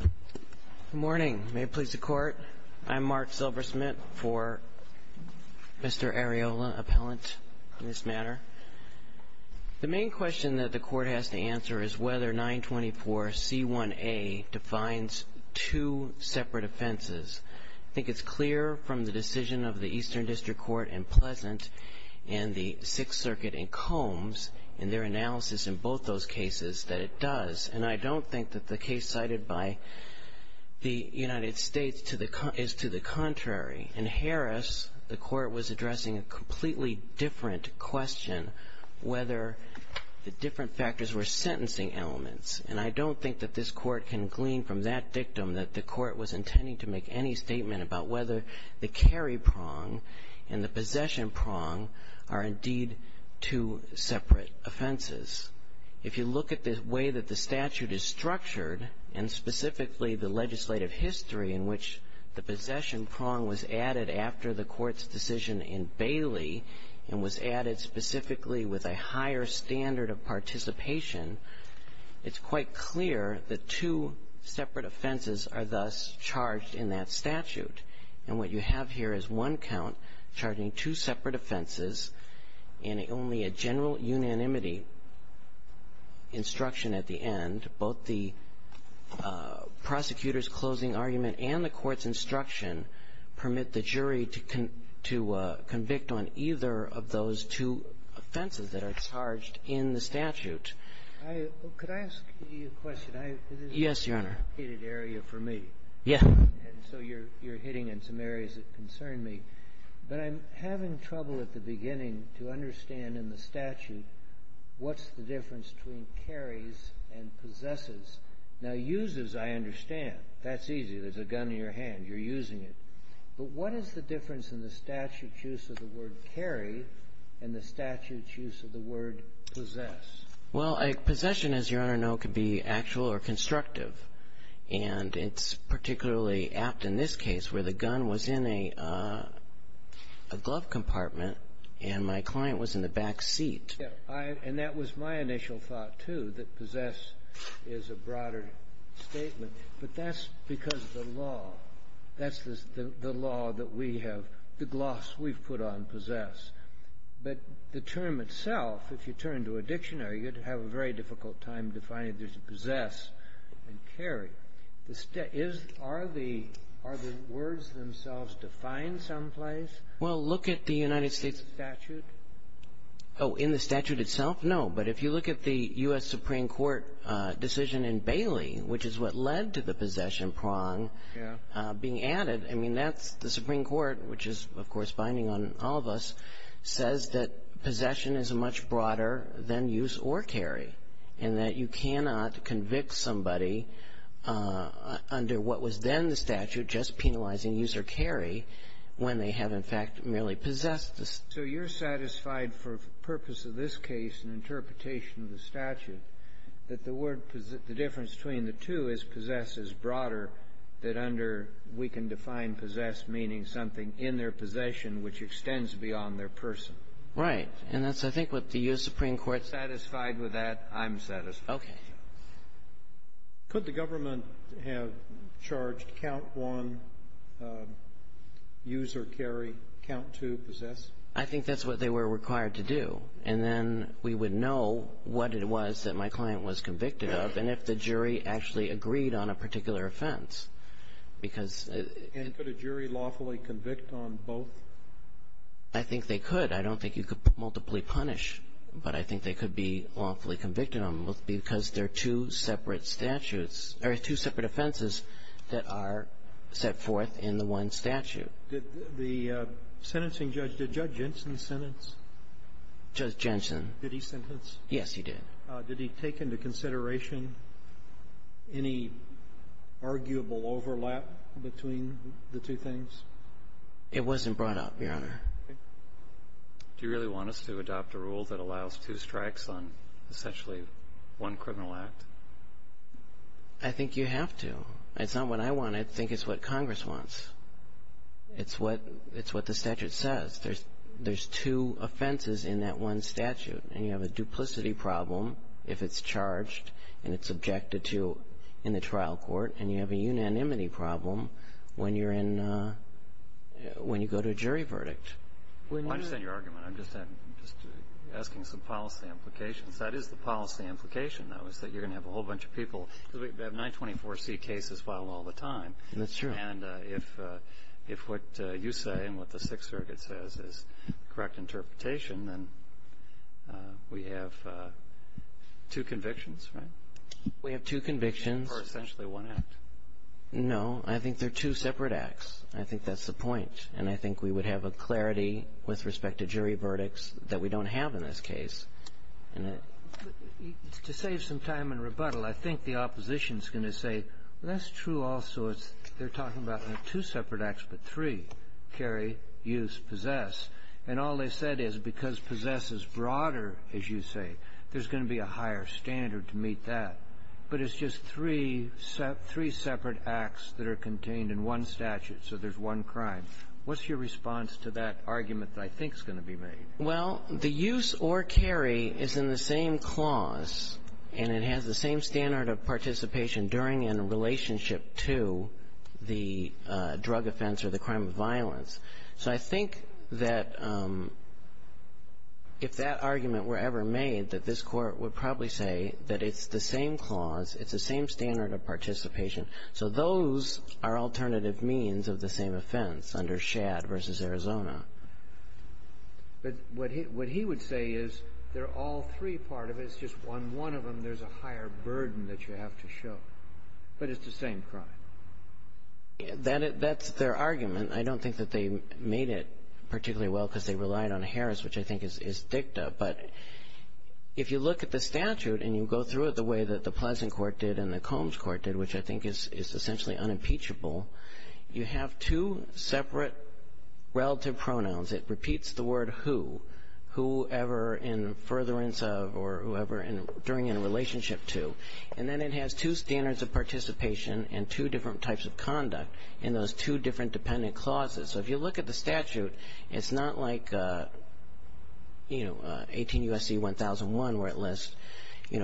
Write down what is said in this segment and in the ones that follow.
Good morning. May it please the court, I'm Mark Silversmith for Mr. Arreola, appellant in this matter. The main question that the court has to answer is whether 924 C1A defines two separate offenses. I think it's clear from the decision of the Eastern District Court and Pleasant and the Sixth Circuit and Combs in their analysis in both those cases that it does and I don't think that the case cited by the United States is to the contrary. In Harris, the court was addressing a completely different question whether the different factors were sentencing elements and I don't think that this court can glean from that dictum that the court was intending to make any statement about whether the carry prong and the possession prong are indeed two separate offenses. If you look at the statute that was captured and specifically the legislative history in which the possession prong was added after the court's decision in Bailey and was added specifically with a higher standard of participation, it's quite clear that two separate offenses are thus charged in that statute. And what you have here is one count charging two separate offenses and only a general unanimity instruction at the end, both the prosecutor's closing argument and the court's instruction permit the jury to convict on either of those two offenses that are charged in the statute. I – could I ask you a question? I – this is a complicated area for me. Yes, Your Honor. And so you're hitting on some areas that concern me. But I'm having trouble at the beginning to understand in the statute what's the difference between carries and possesses. Now, uses I understand. That's easy. There's a gun in your hand. You're using it. But what is the difference in the statute's use of the word carry and the statute's use of the word possess? Well, a possession, as Your Honor knows, could be actual or constructive. And it's particularly apt in this case where the gun was in a glove compartment and my client was in the back seat. Yes. And that was my initial thought, too, that possess is a broader statement. But that's because of the law. That's the law that we have, the gloss we've put on possess. But the term itself, if you turn to a dictionary, you'd have a very difficult time defining if there's a possess and carry. Are the words themselves defined someplace? Well, look at the United States statute. Oh, in the statute itself? No. But if you look at the U.S. Supreme Court decision in Bailey, which is what led to the possession prong being added, I mean, that's the Supreme Court, which is, of course, binding on all of us, says that possession is much broader than use or carry, and that you cannot convict somebody under what was then the statute just penalizing use or carry when they have, in fact, merely possessed. So you're satisfied for the purpose of this case and interpretation of the statute that the difference between the two is possess is broader than under, we can define possess meaning something in their possession which extends beyond their person? Right. And that's, I think, what the U.S. Supreme Court's… Satisfied with that, I'm satisfied. Okay. Could the government have charged count one, use or carry, count two, possess? I think that's what they were required to do. And then we would know what it was that my client was convicted of and if the jury actually agreed on a particular offense. And could a jury lawfully convict on both? I think they could. I don't think you could multiply punish. But I think they could be lawfully convicted on both because they're two separate statutes or two separate offenses that are set forth in the one statute. Did the sentencing judge, did Judge Jensen sentence? Judge Jensen. Did he sentence? Yes, he did. Did he take into consideration any arguable overlap between the two things? It wasn't brought up, Your Honor. Do you really want us to adopt a rule that allows two strikes on essentially one criminal act? I think you have to. It's not what I want. I think it's what Congress wants. It's what the statute says. There's two offenses in that one statute. And you have a duplicity problem if it's charged and it's objected to in the trial court. And you have a unanimity problem when you go to a jury verdict. I understand your argument. I'm just asking some policy implications. That is the policy implication, though, is that you're going to have a whole bunch of people. Because we have 924C cases filed all the time. That's true. And if what you say and what the Sixth Circuit says is the correct interpretation, then we have two convictions, right? We have two convictions. For essentially one act. No. I think they're two separate acts. I think that's the point. And I think we would have a clarity with respect to jury verdicts that we don't have in this case. To save some time and rebuttal, I think the opposition is going to say, that's true also, they're talking about two separate acts, but three, carry, use, possess. And all they said is because possess is broader, as you say, there's going to be a higher standard to meet that. But it's just three separate acts that are contained in one statute, so there's one crime. What's your response to that argument that I think is going to be made? Well, the use or carry is in the same clause. And it has the same standard of participation during and in relationship to the drug offense or the crime of violence. So I think that if that argument were ever made, that this Court would probably say that it's the same clause, it's the same standard of participation. So those are alternative means of the same offense under Schad v. Arizona. But what he would say is they're all three part of it, it's just on one of them there's a higher burden that you have to show. But it's the same crime. That's their argument. I don't think that they made it particularly well because they relied on Harris, which I think is dicta. But if you look at the statute and you go through it the way that the Pleasant Court did and the Combs Court did, which I think is essentially unimpeachable, you have two separate relative pronouns. It repeats the word who, whoever in furtherance of or whoever during in relationship to. And then it has two standards of participation and two different types of conduct in those two different dependent clauses. So if you look at the statute, it's not like 18 U.S.C. 1001, where it lists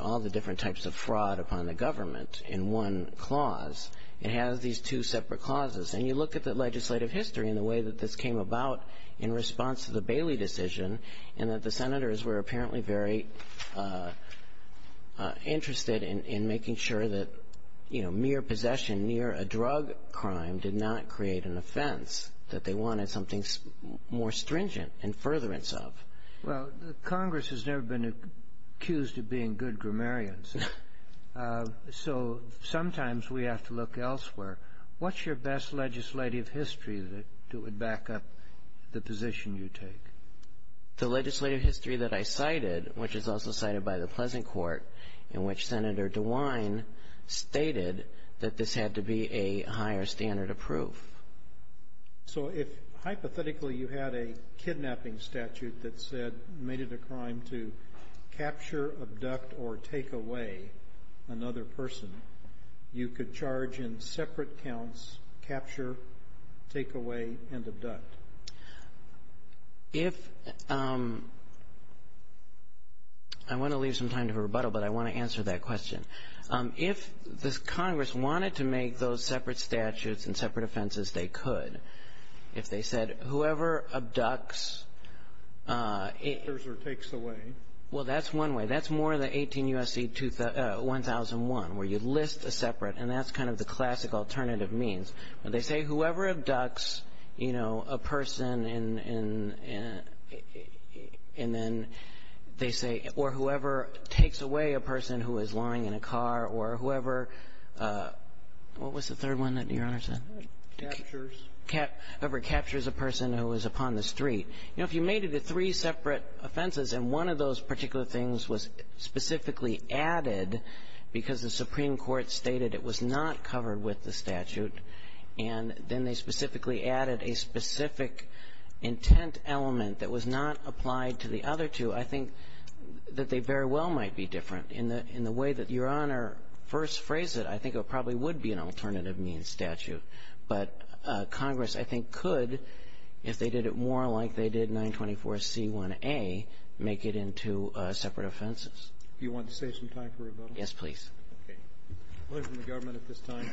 all the different types of fraud upon the government in one clause. It has these two separate clauses. And you look at the legislative history and the way that this came about in response to the Bailey decision, and that the senators were apparently very interested in making sure that, you know, mere possession near a drug crime did not create an offense, that they wanted something more stringent in furtherance of. Well, Congress has never been accused of being good grammarians. So sometimes we have to look elsewhere. What's your best legislative history to back up the position you take? The legislative history that I cited, which is also cited by the Pleasant Court, in which Senator DeWine stated that this had to be a higher standard of proof. So if hypothetically you had a kidnapping statute that said, made it a crime to capture, abduct, or take away another person, you could charge in separate counts, capture, take away, and abduct? If, I want to leave some time to rebuttal, but I want to answer that question. If this Congress wanted to make those separate statutes and separate offenses, they could. If they said, whoever abducts. Captures or takes away. Well, that's one way. That's more the 18 U.S.C. 1001, where you list a separate. And that's kind of the classic alternative means. When they say, whoever abducts, you know, a person and then they say, or whoever takes away a person who is lying in a car or whoever, what was the third one that Your Honor said? Captures. Whoever captures a person who is upon the street. You know, if you made it a three separate offenses, and one of those particular things was specifically added because the Supreme Court stated it was not covered with the statute, and then they specifically added a specific intent element that was not applied to the other two, I think that they very well might be different. In the way that Your Honor first phrased it, I think it probably would be an alternative means statute. But Congress, I think, could, if they did it more like they did 924C1A, make it into separate offenses. Do you want to save some time for rebuttal? Yes, please. Okay. The government at this time.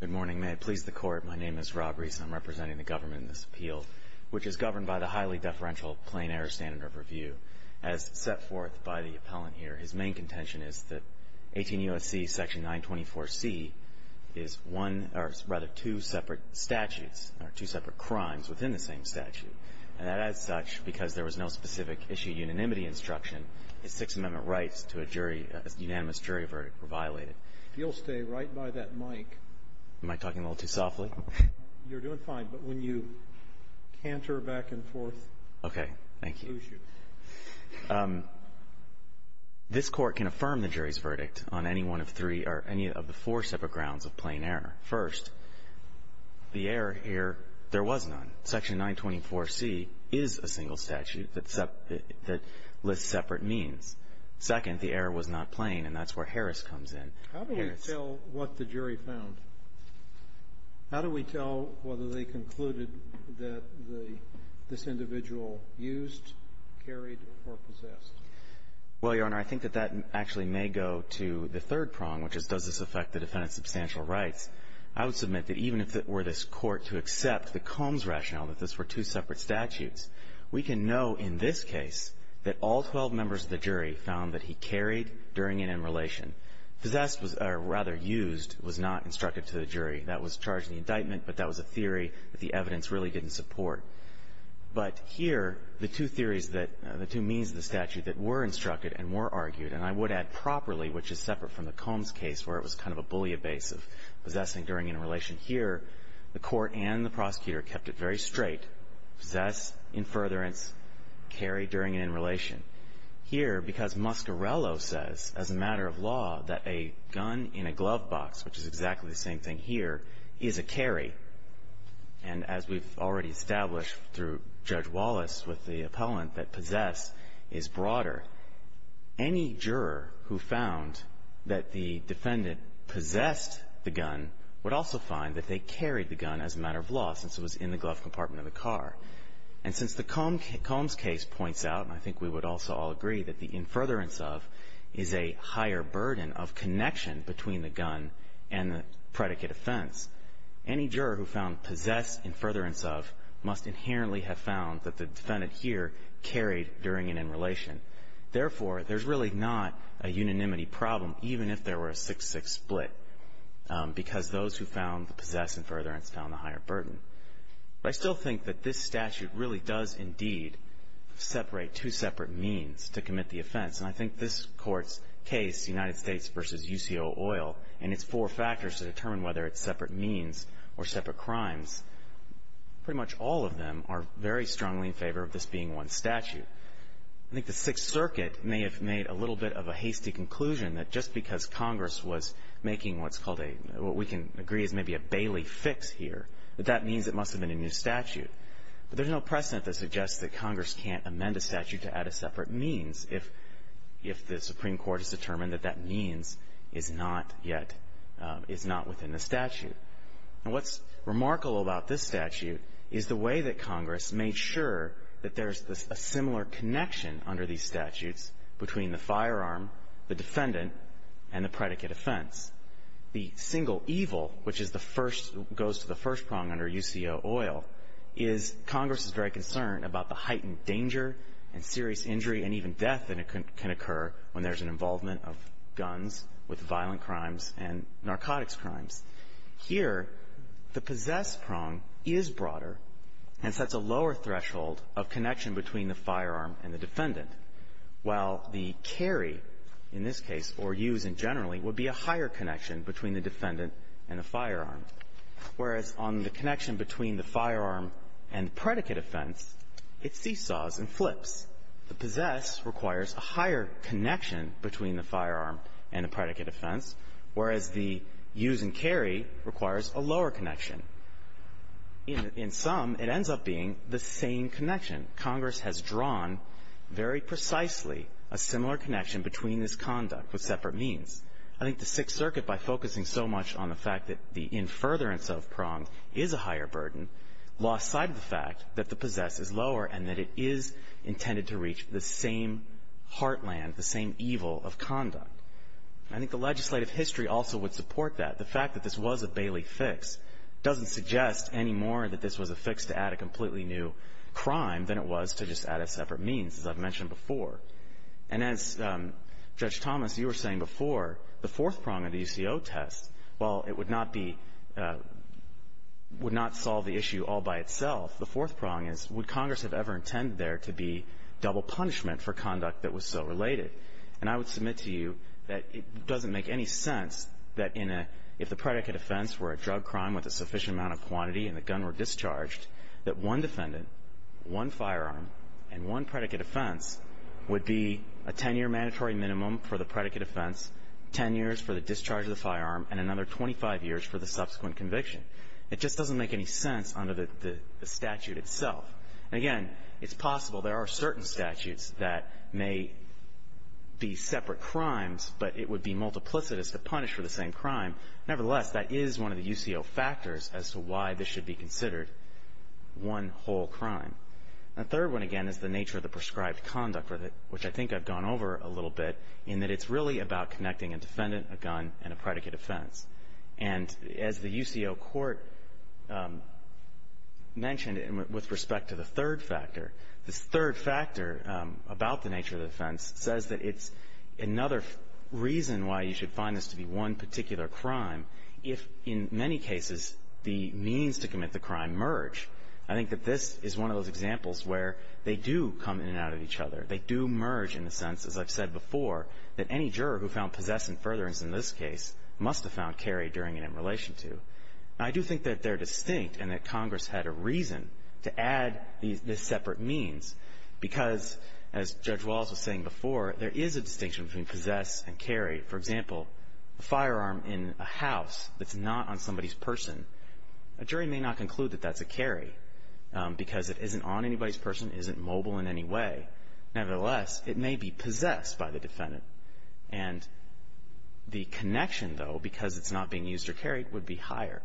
Good morning. May it please the Court. My name is Rob Reese. I'm representing the government in this appeal, which is governed by the highly deferential plain error standard of review. As set forth by the appellant here, his main contention is that 18 U.S.C. section 924C is one or rather two separate statutes or two separate crimes within the same statute. And as such, because there was no specific issue unanimity instruction, his Sixth Amendment rights to a jury, a unanimous jury verdict were violated. If you'll stay right by that mic. Am I talking a little too softly? You're doing fine. But when you canter back and forth. Okay. Thank you. This Court can affirm the jury's verdict on any one of three or any of the four separate grounds of plain error. First, the error here, there was none. Section 924C is a single statute that lists separate means. Second, the error was not plain, and that's where Harris comes in. How do we tell what the jury found? How do we tell whether they concluded that this individual used, carried, or possessed? Well, Your Honor, I think that that actually may go to the third prong, which is, does this affect the defendant's substantial rights? I would submit that even if it were this Court to accept the Combs rationale that this were two separate statutes, we can know in this case that all 12 members of the jury found that he carried during and in relation. Possessed, or rather used, was not instructed to the jury. That was charged in the indictment, but that was a theory that the evidence really didn't support. But here, the two theories that, the two means of the statute that were instructed and were argued, and I would add properly, which is separate from the Combs case, where it was kind of a bully abase of possessing during and in relation. Here, the Court and the prosecutor kept it very straight. Possessed, in furtherance, carried during and in relation. Here, because Muscarello says, as a matter of law, that a gun in a glove box, which is exactly the same thing here, is a carry, and as we've already established through Judge Wallace with the appellant, that possess is broader. Any juror who found that the defendant possessed the gun would also find that they carried the gun as a matter of law, since it was in the glove compartment of the car. And since the Combs case points out, and I think we would also all agree, that the in furtherance of is a higher burden of connection between the gun and the predicate offense, any juror who found possessed in furtherance of must inherently have found that the defendant here carried during and in relation. Therefore, there's really not a unanimity problem, even if there were a 6-6 split, because those who found the possessed in furtherance found the higher burden. But I still think that this statute really does, indeed, separate two separate means to commit the offense, and I think this Court's case, United States v. UCO Oil, and its four factors to determine whether it's separate means or separate crimes, pretty much all of them are very strongly in favor of this being one statute. I think the Sixth Circuit may have made a little bit of a hasty conclusion that just because Congress was making what's called a, what we can agree is maybe a Bailey fix here, that that means it must have been a new statute. But there's no precedent that suggests that Congress can't amend a statute to add a separate means if the Supreme Court has determined that that means is not yet, is not within the statute. And what's remarkable about this statute is the way that Congress made sure that there's a similar connection under these statutes between the firearm, the defendant, and the predicate offense. The single evil, which is the first, goes to the first prong under UCO Oil, is Congress is very concerned about the heightened danger and serious injury and even death that can occur when there's an involvement of guns with violent crimes and narcotics crimes. Here, the possessed prong is broader and sets a lower threshold of connection between the firearm and the defendant, while the carry, in this case, or use in generally, would be a higher connection between the defendant and the firearm, whereas on the connection between the firearm and the predicate offense, it seesaws and flips. The possessed requires a higher connection between the firearm and the predicate offense, whereas the use and carry requires a lower connection. In some, it ends up being the same connection. Congress has drawn very precisely a similar connection between this conduct with I think the Sixth Circuit, by focusing so much on the fact that the in furtherance of prong is a higher burden, lost sight of the fact that the possessed is lower and that it is intended to reach the same heartland, the same evil of conduct. I think the legislative history also would support that. The fact that this was a Bailey fix doesn't suggest any more that this was a fix to add a completely new crime than it was to just add a separate means, as I've mentioned before. And as Judge Thomas, you were saying before, the fourth prong of the UCO test, while it would not be, would not solve the issue all by itself, the fourth prong is, would Congress have ever intended there to be double punishment for conduct that was so related? And I would submit to you that it doesn't make any sense that in a, if the predicate offense were a drug crime with a sufficient amount of quantity and the gun were a drug offense, would be a 10-year mandatory minimum for the predicate offense, 10 years for the discharge of the firearm, and another 25 years for the subsequent conviction. It just doesn't make any sense under the statute itself. And again, it's possible there are certain statutes that may be separate crimes, but it would be multiplicitous to punish for the same crime. Nevertheless, that is one of the UCO factors as to why this should be considered one whole crime. The third one, again, is the nature of the prescribed conduct, which I think I've gone over a little bit, in that it's really about connecting a defendant, a gun, and a predicate offense. And as the UCO court mentioned with respect to the third factor, this third factor about the nature of the offense says that it's another reason why you should find this to be one particular crime if, in many cases, the means to commit the crime merge. I think that this is one of those examples where they do come in and out of each other. They do merge in the sense, as I've said before, that any juror who found possess and furtherance in this case must have found carry during and in relation to. I do think that they're distinct and that Congress had a reason to add these separate means because, as Judge Wallace was saying before, there is a distinction between possess and carry. For example, a firearm in a house that's not on somebody's person, a jury may not include that that's a carry because it isn't on anybody's person, isn't mobile in any way. Nevertheless, it may be possessed by the defendant. And the connection, though, because it's not being used or carried, would be higher.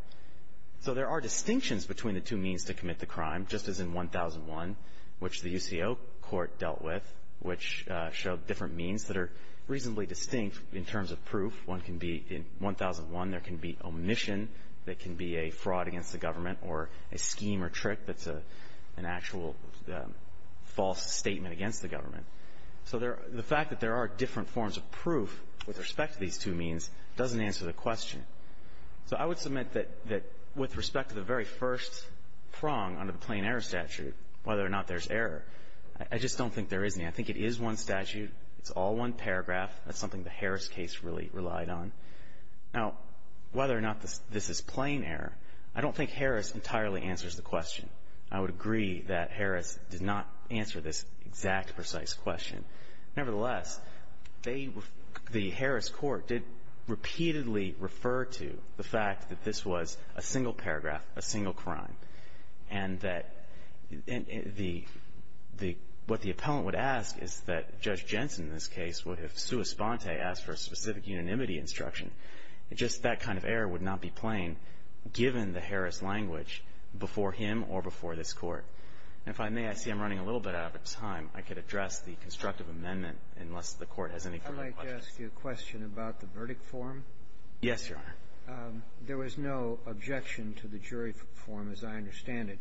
So there are distinctions between the two means to commit the crime, just as in 1001, which the UCO court dealt with, which showed different means that are reasonably distinct in terms of proof. In 1001, there can be omission that can be a fraud against the government or a scheme or trick that's an actual false statement against the government. So the fact that there are different forms of proof with respect to these two means doesn't answer the question. So I would submit that with respect to the very first prong under the plain error statute, whether or not there's error, I just don't think there is any. I think it is one statute. It's all one paragraph. That's something the Harris case really relied on. Now, whether or not this is plain error, I don't think Harris entirely answers the question. I would agree that Harris did not answer this exact precise question. Nevertheless, the Harris court did repeatedly refer to the fact that this was a single paragraph, a single crime, and that what the appellant would ask is that Judge Jensen in this case would have sua sponte, asked for a specific unanimity instruction. Just that kind of error would not be plain given the Harris language before him or before this Court. And if I may, I see I'm running a little bit out of time. I could address the constructive amendment unless the Court has any further questions. I'd like to ask you a question about the verdict form. Yes, Your Honor. There was no objection to the jury form as I understand it.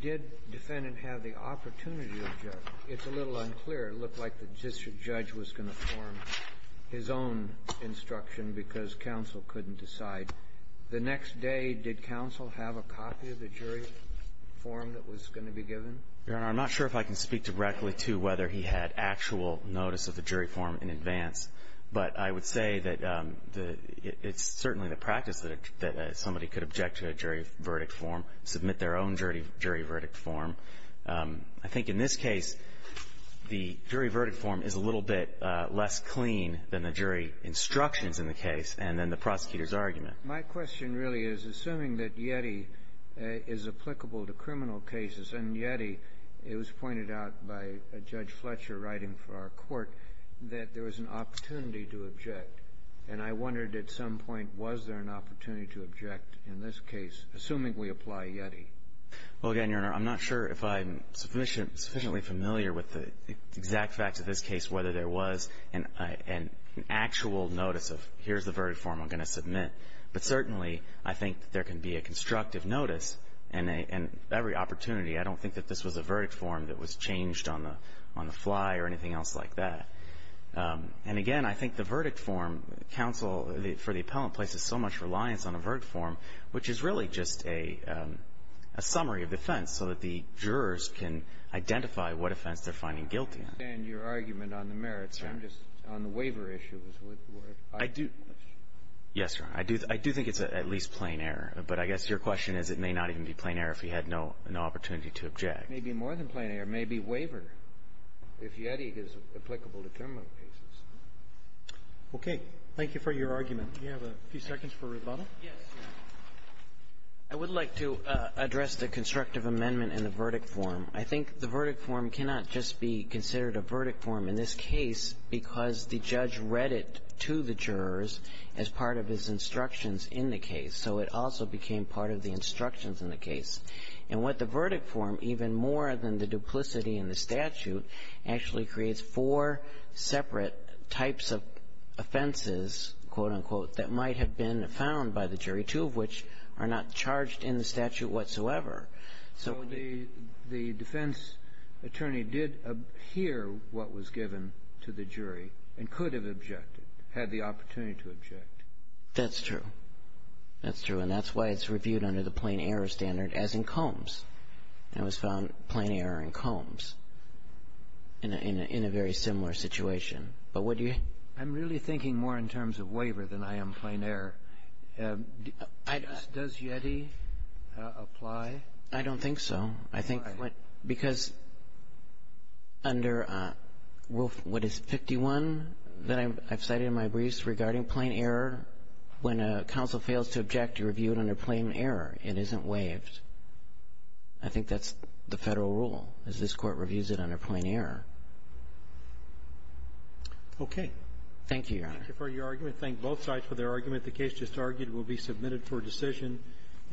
Did defendant have the opportunity to object? It's a little unclear. It looked like the district judge was going to form his own instruction because counsel couldn't decide. The next day, did counsel have a copy of the jury form that was going to be given? Your Honor, I'm not sure if I can speak directly to whether he had actual notice of the jury form in advance, but I would say that it's certainly the practice that somebody could object to a jury verdict form, submit their own jury verdict form. I think in this case, the jury verdict form is a little bit less clean than the jury instructions in the case and then the prosecutor's argument. My question really is, assuming that YETI is applicable to criminal cases, and YETI, it was pointed out by Judge Fletcher writing for our Court, that there was an opportunity to object. And I wondered at some point, was there an opportunity to object in this case, assuming we apply YETI? Well, again, Your Honor, I'm not sure if I'm sufficiently familiar with the exact facts of this case, whether there was an actual notice of, here's the verdict form I'm going to submit. But certainly, I think there can be a constructive notice and every opportunity. I don't think that this was a verdict form that was changed on the fly or anything else like that. And again, I think the verdict form, counsel, for the appellant, places so much reliance on a verdict form, which is really just a summary of the offense so that the jurors can identify what offense they're finding guilty. And your argument on the merits, I'm just on the waiver issues. I do. Yes, Your Honor. I do think it's at least plain error. But I guess your question is it may not even be plain error if he had no opportunity to object. It may be more than plain error. It may be waiver if YETI is applicable to criminal cases. Okay. Thank you for your argument. Do you have a few seconds for rebuttal? Yes. I would like to address the constructive amendment in the verdict form. I think the verdict form cannot just be considered a verdict form in this case because the judge read it to the jurors as part of his instructions in the case. So it also became part of the instructions in the case. And what the verdict form, even more than the duplicity in the statute, actually creates four separate types of offenses, quote, unquote, that might have been found by the jury, two of which are not charged in the statute whatsoever. So the defense attorney did hear what was given to the jury and could have objected, had the opportunity to object. That's true. That's true. And that's why it's reviewed under the plain error standard as in Combs. It was found plain error in Combs in a very similar situation. But what do you think? I'm really thinking more in terms of waiver than I am plain error. Does YETI apply? I don't think so. Why? Because under what is 51 that I've cited in my briefs regarding plain error, when a counsel fails to object, you review it under plain error. It isn't waived. I think that's the federal rule, is this Court reviews it under plain error. Thank you, Your Honor. Thank you for your argument. Thank both sides for their argument. The case just argued will be submitted for decision.